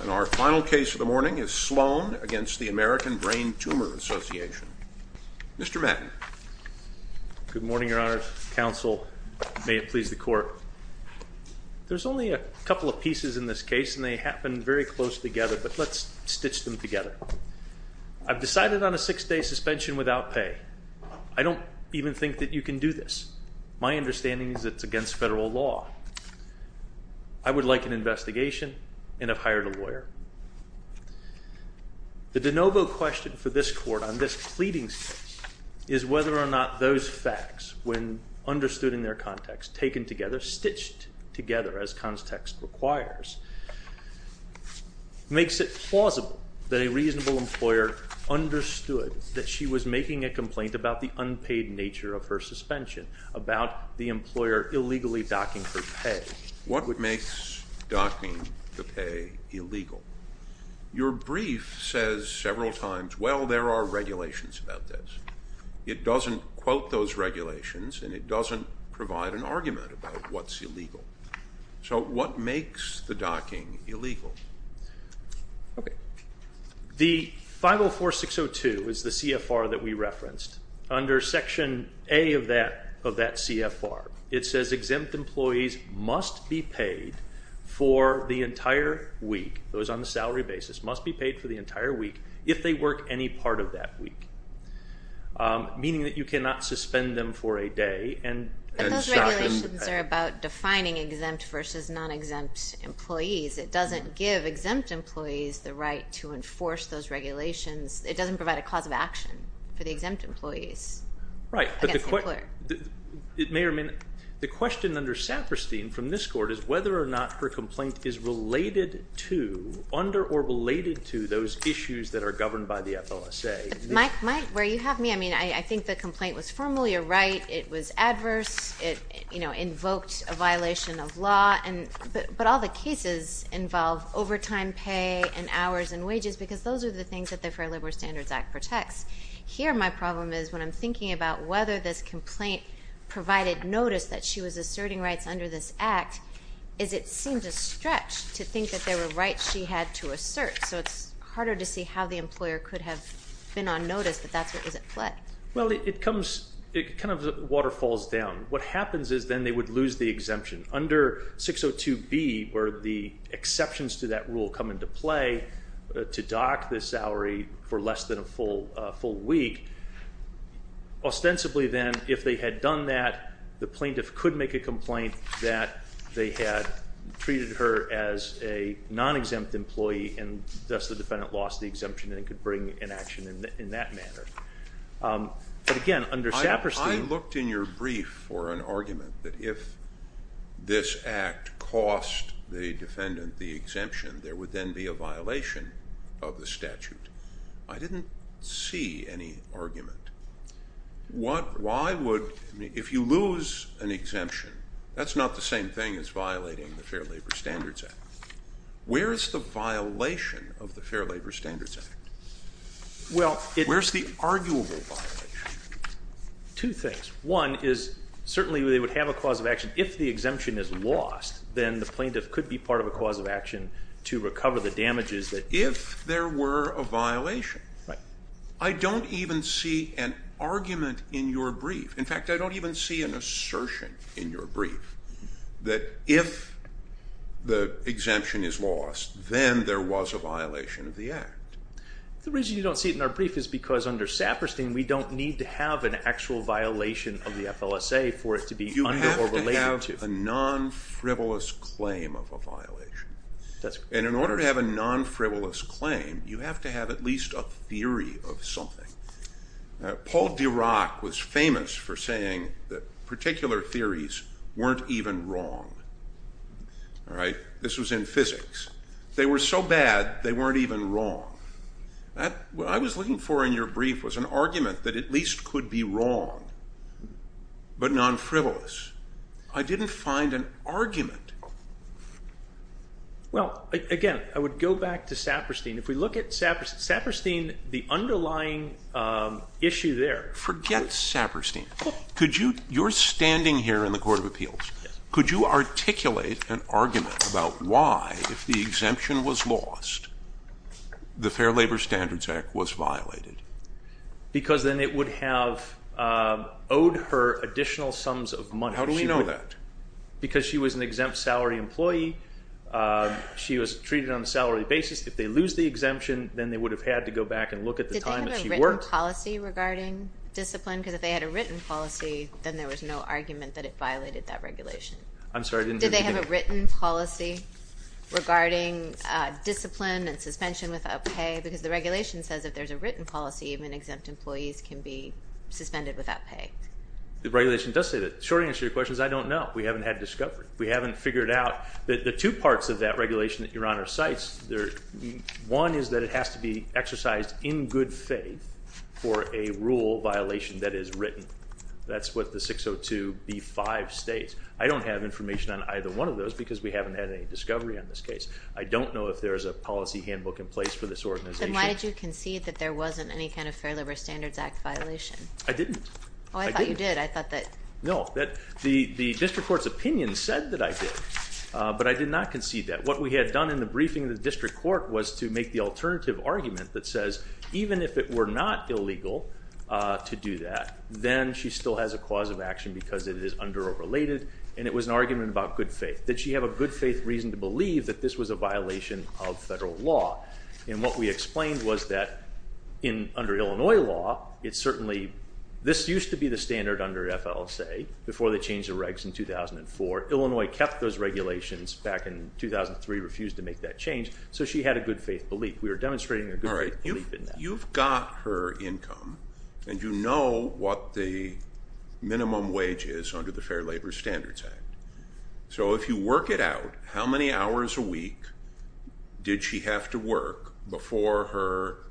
And our final case of the morning is Sloan v. American Brain Tumor Association. Mr. Matten. Good morning, Your Honor, Counsel. May it please the Court. There's only a couple of pieces in this case, and they happen very close together, but let's stitch them together. I've decided on a six-day suspension without pay. I don't even think that you can do this. My understanding is it's against federal law. I would like an investigation and have hired a lawyer. The de novo question for this Court on this pleading case is whether or not those facts, when understood in their context, taken together, stitched together, as context requires, makes it plausible that a reasonable employer understood that she was making a complaint about the unpaid nature of her suspension, about the employer illegally docking her pay. What would make docking the pay illegal? Your brief says several times, well, there are regulations about this. It doesn't quote those regulations, and it doesn't provide an argument about what's illegal. So what makes the docking illegal? Okay. The 504-602 is the CFR that we referenced. Under Section A of that CFR, it says exempt employees must be paid for the entire week, those on the salary basis, must be paid for the entire week if they work any part of that week, meaning that you cannot suspend them for a day. But those regulations are about defining exempt versus non-exempt employees. It doesn't give exempt employees the right to enforce those regulations. It doesn't provide a cause of action for the exempt employees against the employer. Right, but the question under Saperstein from this Court is whether or not her complaint is related to, under or related to those issues that are governed by the FLSA. Mike, where you have me, I mean, I think the complaint was formally a right. It was adverse. It, you know, invoked a violation of law. But all the cases involve overtime pay and hours and wages because those are the things that the Fair Labor Standards Act protects. Here my problem is when I'm thinking about whether this complaint provided notice that she was asserting rights under this Act, is it seemed a stretch to think that there were rights she had to assert. So it's harder to see how the employer could have been on notice that that's what was at play. Well, it comes, it kind of waterfalls down. What happens is then they would lose the exemption. Under 602B where the exceptions to that rule come into play to dock the salary for less than a full week, ostensibly then if they had done that, the plaintiff could make a complaint that they had treated her as a non-exempt employee and thus the defendant lost the exemption and could bring an action in that manner. But again, under Saperstein- I looked in your brief for an argument that if this Act cost the defendant the exemption, there would then be a violation of the statute. I didn't see any argument. Why would, if you lose an exemption, that's not the same thing as violating the Fair Labor Standards Act. Where is the violation of the Fair Labor Standards Act? Where's the arguable violation? Two things. One is certainly they would have a cause of action if the exemption is lost, then the plaintiff could be part of a cause of action to recover the damages that- If there were a violation. I don't even see an argument in your brief. In fact, I don't even see an assertion in your brief that if the exemption is lost, then there was a violation of the Act. The reason you don't see it in our brief is because under Saperstein, we don't need to have an actual violation of the FLSA for it to be under or related to. You have to have a non-frivolous claim of a violation. And in order to have a non-frivolous claim, you have to have at least a theory of something. Paul Dirac was famous for saying that particular theories weren't even wrong. This was in physics. They were so bad, they weren't even wrong. What I was looking for in your brief was an argument that at least could be wrong, but non-frivolous. I didn't find an argument. Well, again, I would go back to Saperstein. If we look at Saperstein, the underlying issue there- Forget Saperstein. You're standing here in the Court of Appeals. Could you articulate an argument about why, if the exemption was lost, the Fair Labor Standards Act was violated? Because then it would have owed her additional sums of money. How do we know that? Because she was an exempt salary employee. She was treated on a salary basis. If they lose the exemption, then they would have had to go back and look at the time that she worked. Did they have a written policy regarding discipline? Because if they had a written policy, then there was no argument that it violated that regulation. I'm sorry. Did they have a written policy regarding discipline and suspension without pay? Because the regulation says if there's a written policy, even exempt employees can be suspended without pay. The regulation does say that. The short answer to your question is I don't know. We haven't had discovery. We haven't figured out. The two parts of that regulation that Your Honor cites, one is that it has to be exercised in good faith for a rule violation that is written. That's what the 602B5 states. I don't have information on either one of those because we haven't had any discovery on this case. I don't know if there's a policy handbook in place for this organization. Then why did you concede that there wasn't any kind of Fair Labor Standards Act violation? I didn't. Oh, I thought you did. I thought that. No, the district court's opinion said that I did, but I did not concede that. What we had done in the briefing of the district court was to make the alternative argument that says even if it were not illegal to do that, then she still has a cause of action because it is underrelated, and it was an argument about good faith. Did she have a good faith reason to believe that this was a violation of federal law? And what we explained was that under Illinois law, it certainly, this used to be the standard under FLSA before they changed the regs in 2004. Illinois kept those regulations back in 2003, refused to make that change, so she had a good faith belief. We were demonstrating a good faith belief in that. All right. You've got her income, and you know what the minimum wage is under the Fair Labor Standards Act. So if you work it out, how many hours a week did she have to work before her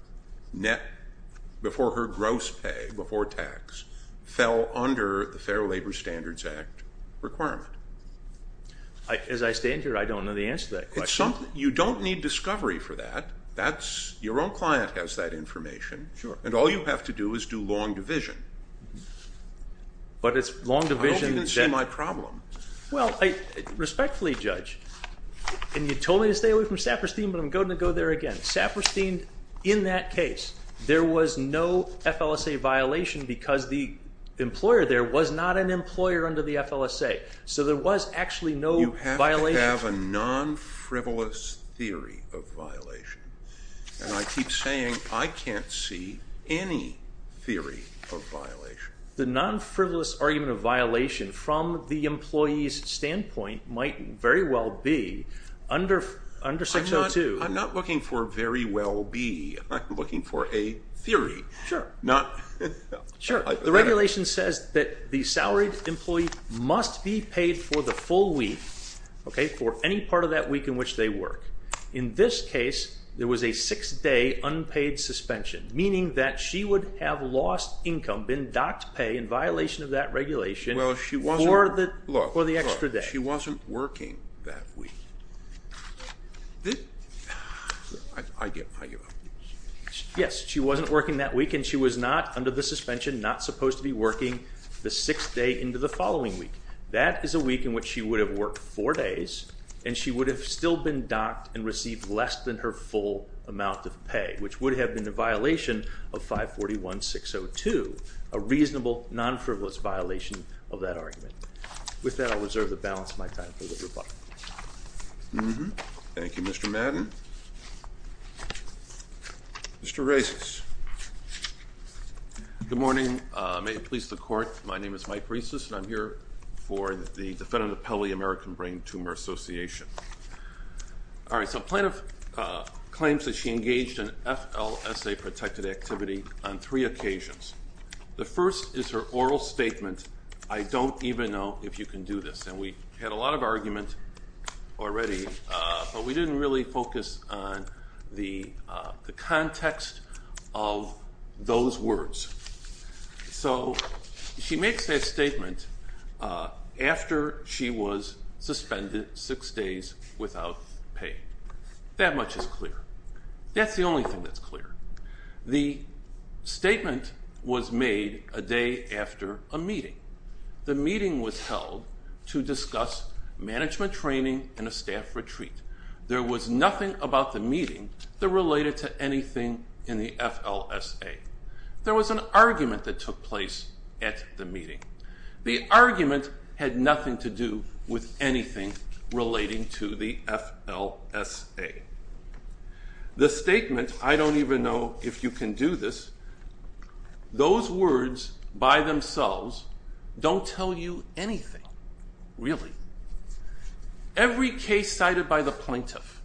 gross pay, before tax, fell under the Fair Labor Standards Act requirement? As I stand here, I don't know the answer to that question. You don't need discovery for that. Your own client has that information. Sure. And all you have to do is do long division. But it's long division. I hope you didn't see my problem. Well, respectfully, Judge, and you told me to stay away from Saperstein, but I'm going to go there again. Saperstein, in that case, there was no FLSA violation because the employer there was not an employer under the FLSA. So there was actually no violation. You have to have a non-frivolous theory of violation. And I keep saying I can't see any theory of violation. The non-frivolous argument of violation from the employee's standpoint might very well be under 602. I'm not looking for very well be. I'm looking for a theory. Sure. The regulation says that the salaried employee must be paid for the full week, for any part of that week in which they work. In this case, there was a six-day unpaid suspension, meaning that she would have lost income, been docked pay in violation of that regulation for the extra day. She wasn't working that week. I give up. Yes, she wasn't working that week, and she was not, under the suspension, not supposed to be working the sixth day into the following week. That is a week in which she would have worked four days, and she would have still been docked and received less than her full amount of pay, which would have been a violation of 541-602, a reasonable non-frivolous violation of that argument. With that, I'll reserve the balance of my time for the rebuttal. Thank you, Mr. Madden. Mr. Reisses. Good morning. May it please the Court. My name is Mike Reisses, and I'm here for the defendant of Pelley American Brain Tumor Association. All right, so plaintiff claims that she engaged in FLSA-protected activity on three occasions. The first is her oral statement, I don't even know if you can do this. And we had a lot of argument already, but we didn't really focus on the context of those words. So she makes that statement after she was suspended six days without pay. That much is clear. That's the only thing that's clear. The statement was made a day after a meeting. The meeting was held to discuss management training and a staff retreat. There was nothing about the meeting that related to anything in the FLSA. There was an argument that took place at the meeting. The argument had nothing to do with anything relating to the FLSA. The statement, I don't even know if you can do this, those words by themselves don't tell you anything, really. Every case cited by the plaintiff,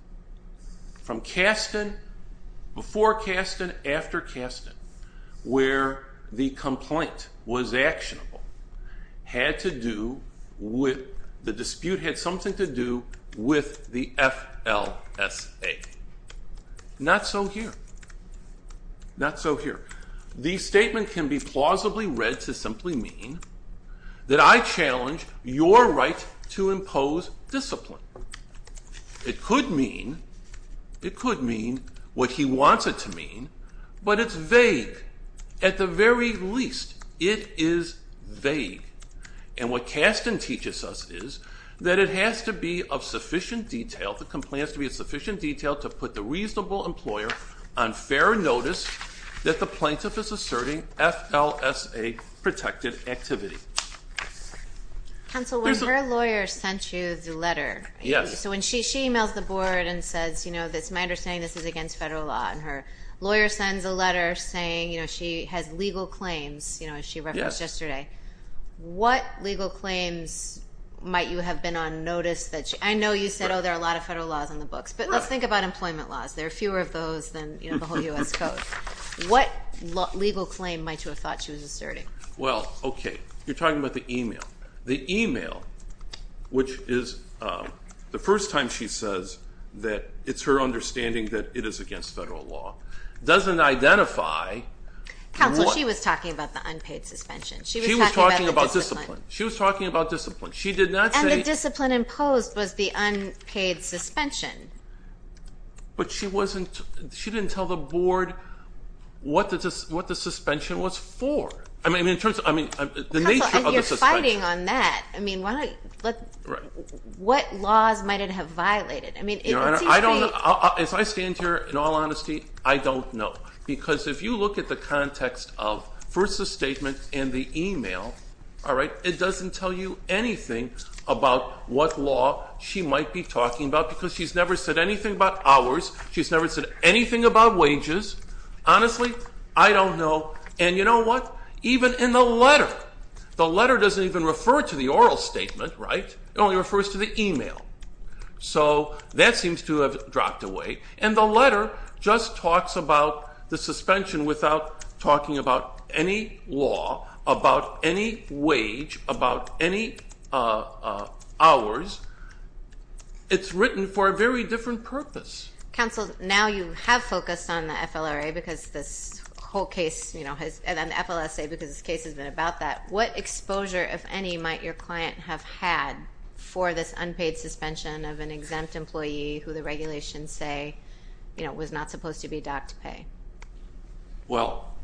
from Kasten, before Kasten, after Kasten, where the complaint was actionable, had to do with, the dispute had something to do with the FLSA. Not so here. Not so here. The statement can be plausibly read to simply mean that I challenge your right to impose discipline. It could mean, it could mean what he wants it to mean, but it's vague. At the very least, it is vague. And what Kasten teaches us is that it has to be of sufficient detail, the complaint has to be of sufficient detail to put the reasonable employer on fair notice that the plaintiff is asserting FLSA-protected activity. Counsel, when her lawyer sent you the letter, so when she emails the board and says, you know, it's my understanding this is against federal law, and her lawyer sends a letter saying, you know, she has legal claims, you know, as she referenced yesterday, what legal claims might you have been on notice that she, I know you said, oh, there are a lot of federal laws in the books, but let's think about employment laws. There are fewer of those than, you know, the whole U.S. Code. What legal claim might you have thought she was asserting? Well, okay, you're talking about the email. The email, which is the first time she says that it's her understanding that it is against federal law, doesn't identify. Counsel, she was talking about the unpaid suspension. She was talking about discipline. She was talking about discipline. And the discipline imposed was the unpaid suspension. But she didn't tell the board what the suspension was for. I mean, in terms of the nature of the suspension. Counsel, you're fighting on that. I mean, what laws might it have violated? Your Honor, as I stand here, in all honesty, I don't know, because if you look at the context of first the statement and the email, all right, it doesn't tell you anything about what law she might be talking about because she's never said anything about ours. She's never said anything about wages. Honestly, I don't know. And you know what? Even in the letter, the letter doesn't even refer to the oral statement, right? It only refers to the email. So that seems to have dropped away. And the letter just talks about the suspension without talking about any law, about any wage, about any hours. It's written for a very different purpose. Counsel, now you have focused on the FLRA because this whole case, you know, and then the FLSA because this case has been about that. What exposure, if any, might your client have had for this unpaid suspension of an exempt employee who the regulations say, you know, was not supposed to be docked to pay? Well,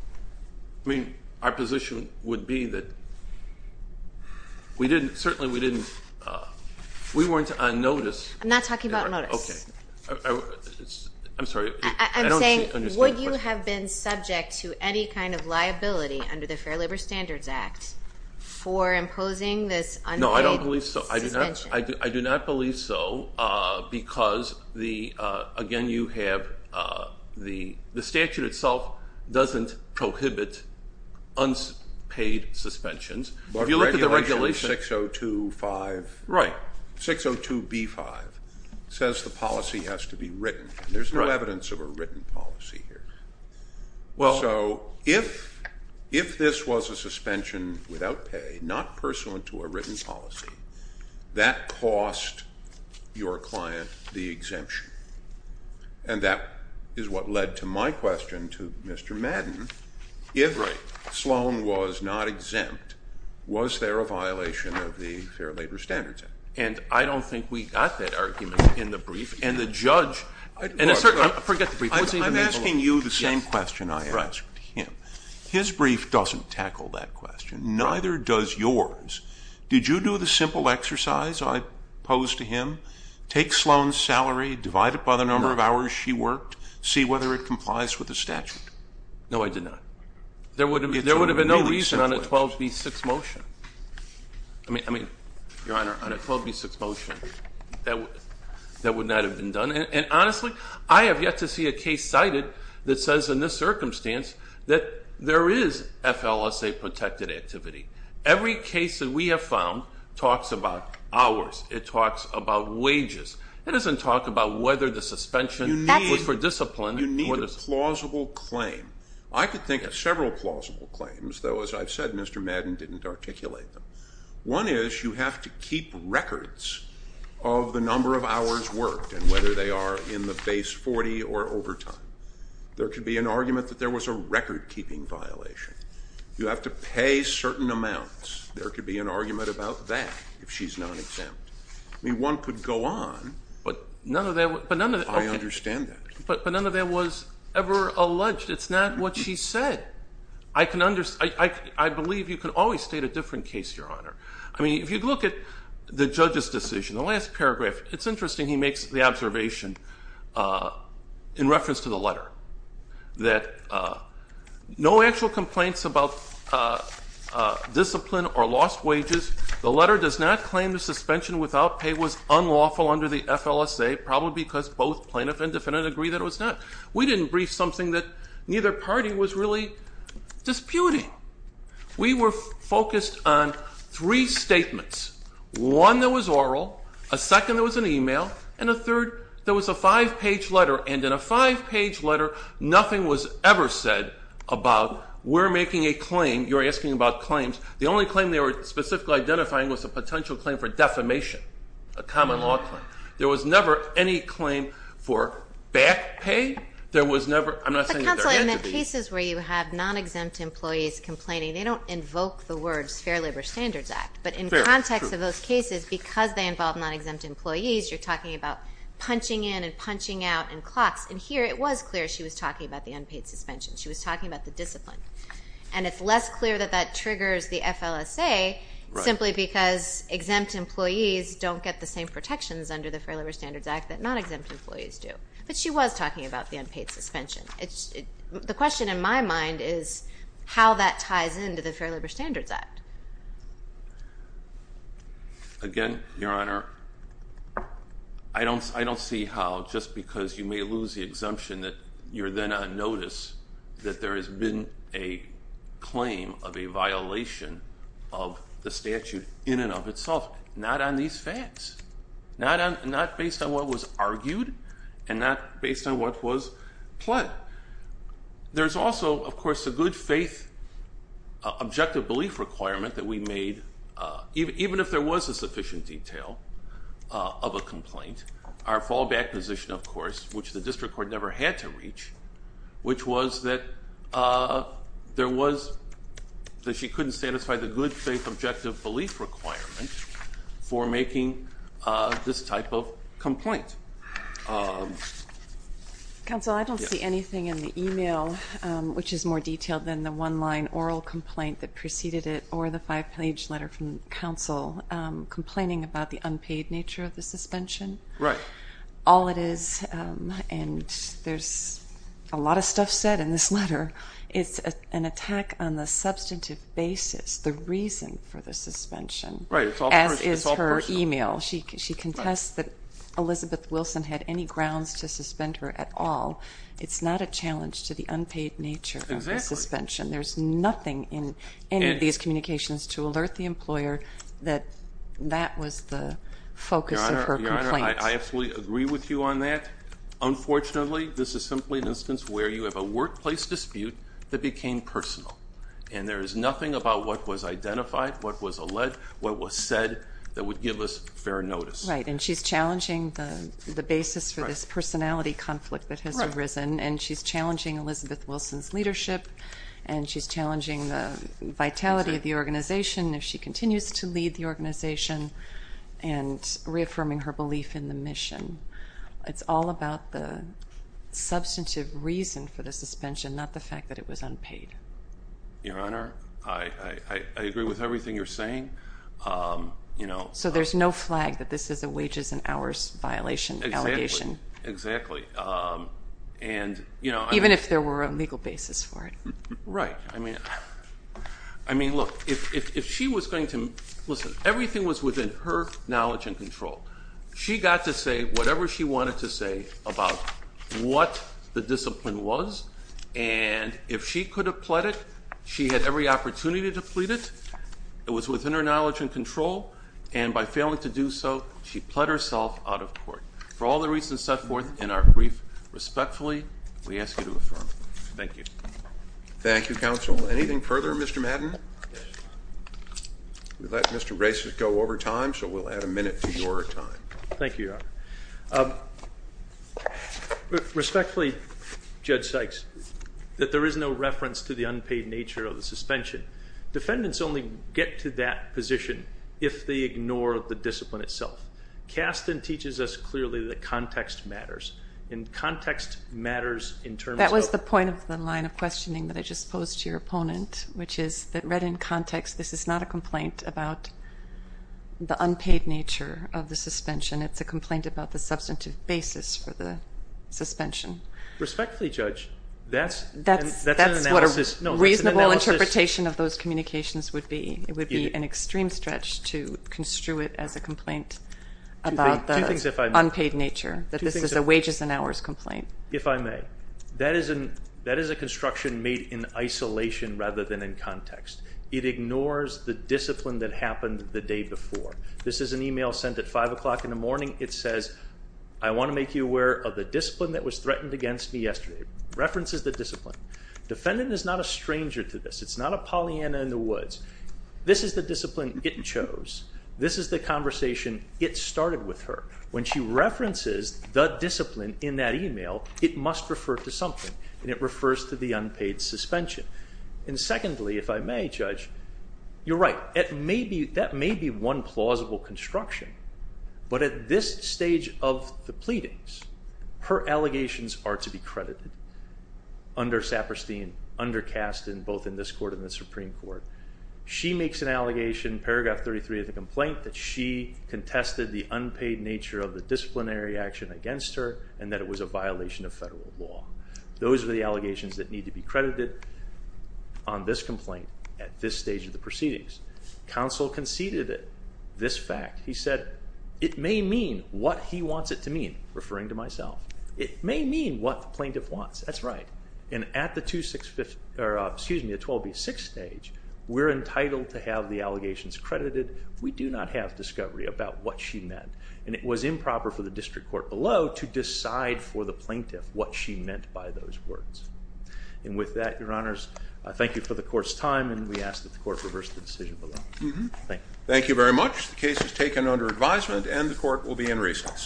I mean, our position would be that we didn't, certainly we didn't, we weren't on notice. I'm not talking about notice. Okay. I'm sorry. I'm saying would you have been subject to any kind of liability under the Fair Labor Standards Act for imposing this unpaid suspension? No, I don't believe so. I do not believe so because, again, you have the statute itself doesn't prohibit unpaid suspensions. If you look at the regulations. But regulation 602.5. Right. There's no evidence of a written policy here. So if this was a suspension without pay, not pursuant to a written policy, that cost your client the exemption. And that is what led to my question to Mr. Madden. If Sloan was not exempt, was there a violation of the Fair Labor Standards Act? And I don't think we got that argument in the brief. And the judge. I'm asking you the same question I asked him. His brief doesn't tackle that question. Neither does yours. Did you do the simple exercise I posed to him? Take Sloan's salary, divide it by the number of hours she worked, see whether it complies with the statute. No, I did not. There would have been no reason on a 12B6 motion. I mean, Your Honor, on a 12B6 motion, that would not have been done. And honestly, I have yet to see a case cited that says in this circumstance that there is FLSA protected activity. Every case that we have found talks about hours. It talks about wages. It doesn't talk about whether the suspension was for discipline. You need a plausible claim. I could think of several plausible claims, though, as I've said, Mr. Madden didn't articulate them. One is you have to keep records of the number of hours worked and whether they are in the base 40 or overtime. There could be an argument that there was a record-keeping violation. You have to pay certain amounts. There could be an argument about that if she's not exempt. I mean, one could go on. But none of that was ever alleged. It's not what she said. I believe you can always state a different case, Your Honor. I mean, if you look at the judge's decision, the last paragraph, it's interesting he makes the observation in reference to the letter, that no actual complaints about discipline or lost wages. The letter does not claim the suspension without pay was unlawful under the FLSA, probably because both plaintiff and defendant agree that it was not. We didn't brief something that neither party was really disputing. We were focused on three statements, one that was oral, a second that was an e-mail, and a third that was a five-page letter. And in a five-page letter, nothing was ever said about we're making a claim, you're asking about claims. The only claim they were specifically identifying was a potential claim for defamation, a common law claim. There was never any claim for back pay. There was never, I'm not saying that there had to be. But counsel, in the cases where you have non-exempt employees complaining, they don't invoke the words Fair Labor Standards Act. But in context of those cases, because they involve non-exempt employees, you're talking about punching in and punching out and clocks. And here it was clear she was talking about the unpaid suspension. She was talking about the discipline. And it's less clear that that triggers the FLSA simply because exempt employees don't get the same protections under the Fair Labor Standards Act that non-exempt employees do. But she was talking about the unpaid suspension. The question in my mind is how that ties into the Fair Labor Standards Act. Again, Your Honor, I don't see how just because you may lose the exemption that you're then on notice that there has been a claim of a violation of the statute in and of itself. Not on these facts. Not based on what was argued and not based on what was pled. There's also, of course, a good faith objective belief requirement that we made even if there was a sufficient detail of a complaint. Our fallback position, of course, which the district court never had to reach, which was that there was that she couldn't satisfy the good faith objective belief requirement for making this type of complaint. Counsel, I don't see anything in the e-mail which is more detailed than the one-line oral complaint that preceded it or the five-page letter from counsel complaining about the unpaid nature of the suspension. Right. All it is, and there's a lot of stuff said in this letter, is an attack on the substantive basis, the reason for the suspension. As is her e-mail. She contests that Elizabeth Wilson had any grounds to suspend her at all. It's not a challenge to the unpaid nature of the suspension. There's nothing in any of these communications to alert the employer that that was the focus of her complaint. Your Honor, I absolutely agree with you on that. Unfortunately, this is simply an instance where you have a workplace dispute that became personal. And there is nothing about what was identified, what was alleged, what was said that would give us fair notice. Right. And she's challenging the basis for this personality conflict that has arisen. Right. And she's challenging Elizabeth Wilson's leadership, and she's challenging the vitality of the organization if she continues to lead the organization, and reaffirming her belief in the mission. It's all about the substantive reason for the suspension, not the fact that it was unpaid. Your Honor, I agree with everything you're saying. So there's no flag that this is a wages and hours violation, allegation. Exactly. Even if there were a legal basis for it. Right. I mean, look, if she was going to, listen, everything was within her knowledge and control. She got to say whatever she wanted to say about what the discipline was. And if she could have pled it, she had every opportunity to plead it. It was within her knowledge and control. And by failing to do so, she pled herself out of court. For all the reasons set forth in our brief, respectfully, we ask you to affirm. Thank you. Thank you, Counsel. Anything further, Mr. Madden? We let Mr. Braces go over time, so we'll add a minute to your time. Thank you, Your Honor. Respectfully, Judge Sykes, that there is no reference to the unpaid nature of the suspension. Defendants only get to that position if they ignore the discipline itself. Kasten teaches us clearly that context matters, and context matters in terms of That's the point of the line of questioning that I just posed to your opponent, which is that read in context, this is not a complaint about the unpaid nature of the suspension. It's a complaint about the substantive basis for the suspension. Respectfully, Judge, that's an analysis. That's what a reasonable interpretation of those communications would be. It would be an extreme stretch to construe it as a complaint about the unpaid nature, that this is a wages and hours complaint. If I may, that is a construction made in isolation rather than in context. It ignores the discipline that happened the day before. This is an email sent at 5 o'clock in the morning. It says, I want to make you aware of the discipline that was threatened against me yesterday. References the discipline. Defendant is not a stranger to this. It's not a Pollyanna in the woods. This is the discipline it chose. This is the conversation it started with her. When she references the discipline in that email, it must refer to something, and it refers to the unpaid suspension. And secondly, if I may, Judge, you're right. That may be one plausible construction, but at this stage of the pleadings, her allegations are to be credited under Saperstein, under Kasten, both in this court and the Supreme Court. She makes an allegation, paragraph 33 of the complaint, that she contested the unpaid nature of the disciplinary action against her and that it was a violation of federal law. Those are the allegations that need to be credited on this complaint at this stage of the proceedings. Counsel conceded this fact. He said it may mean what he wants it to mean, referring to myself. It may mean what the plaintiff wants. That's right. And at the 12B6 stage, we're entitled to have the allegations credited. We do not have discovery about what she meant, and it was improper for the district court below to decide for the plaintiff what she meant by those words. And with that, Your Honors, I thank you for the court's time, and we ask that the court reverse the decision below. Thank you. Thank you very much. The case is taken under advisement, and the court will be in recess.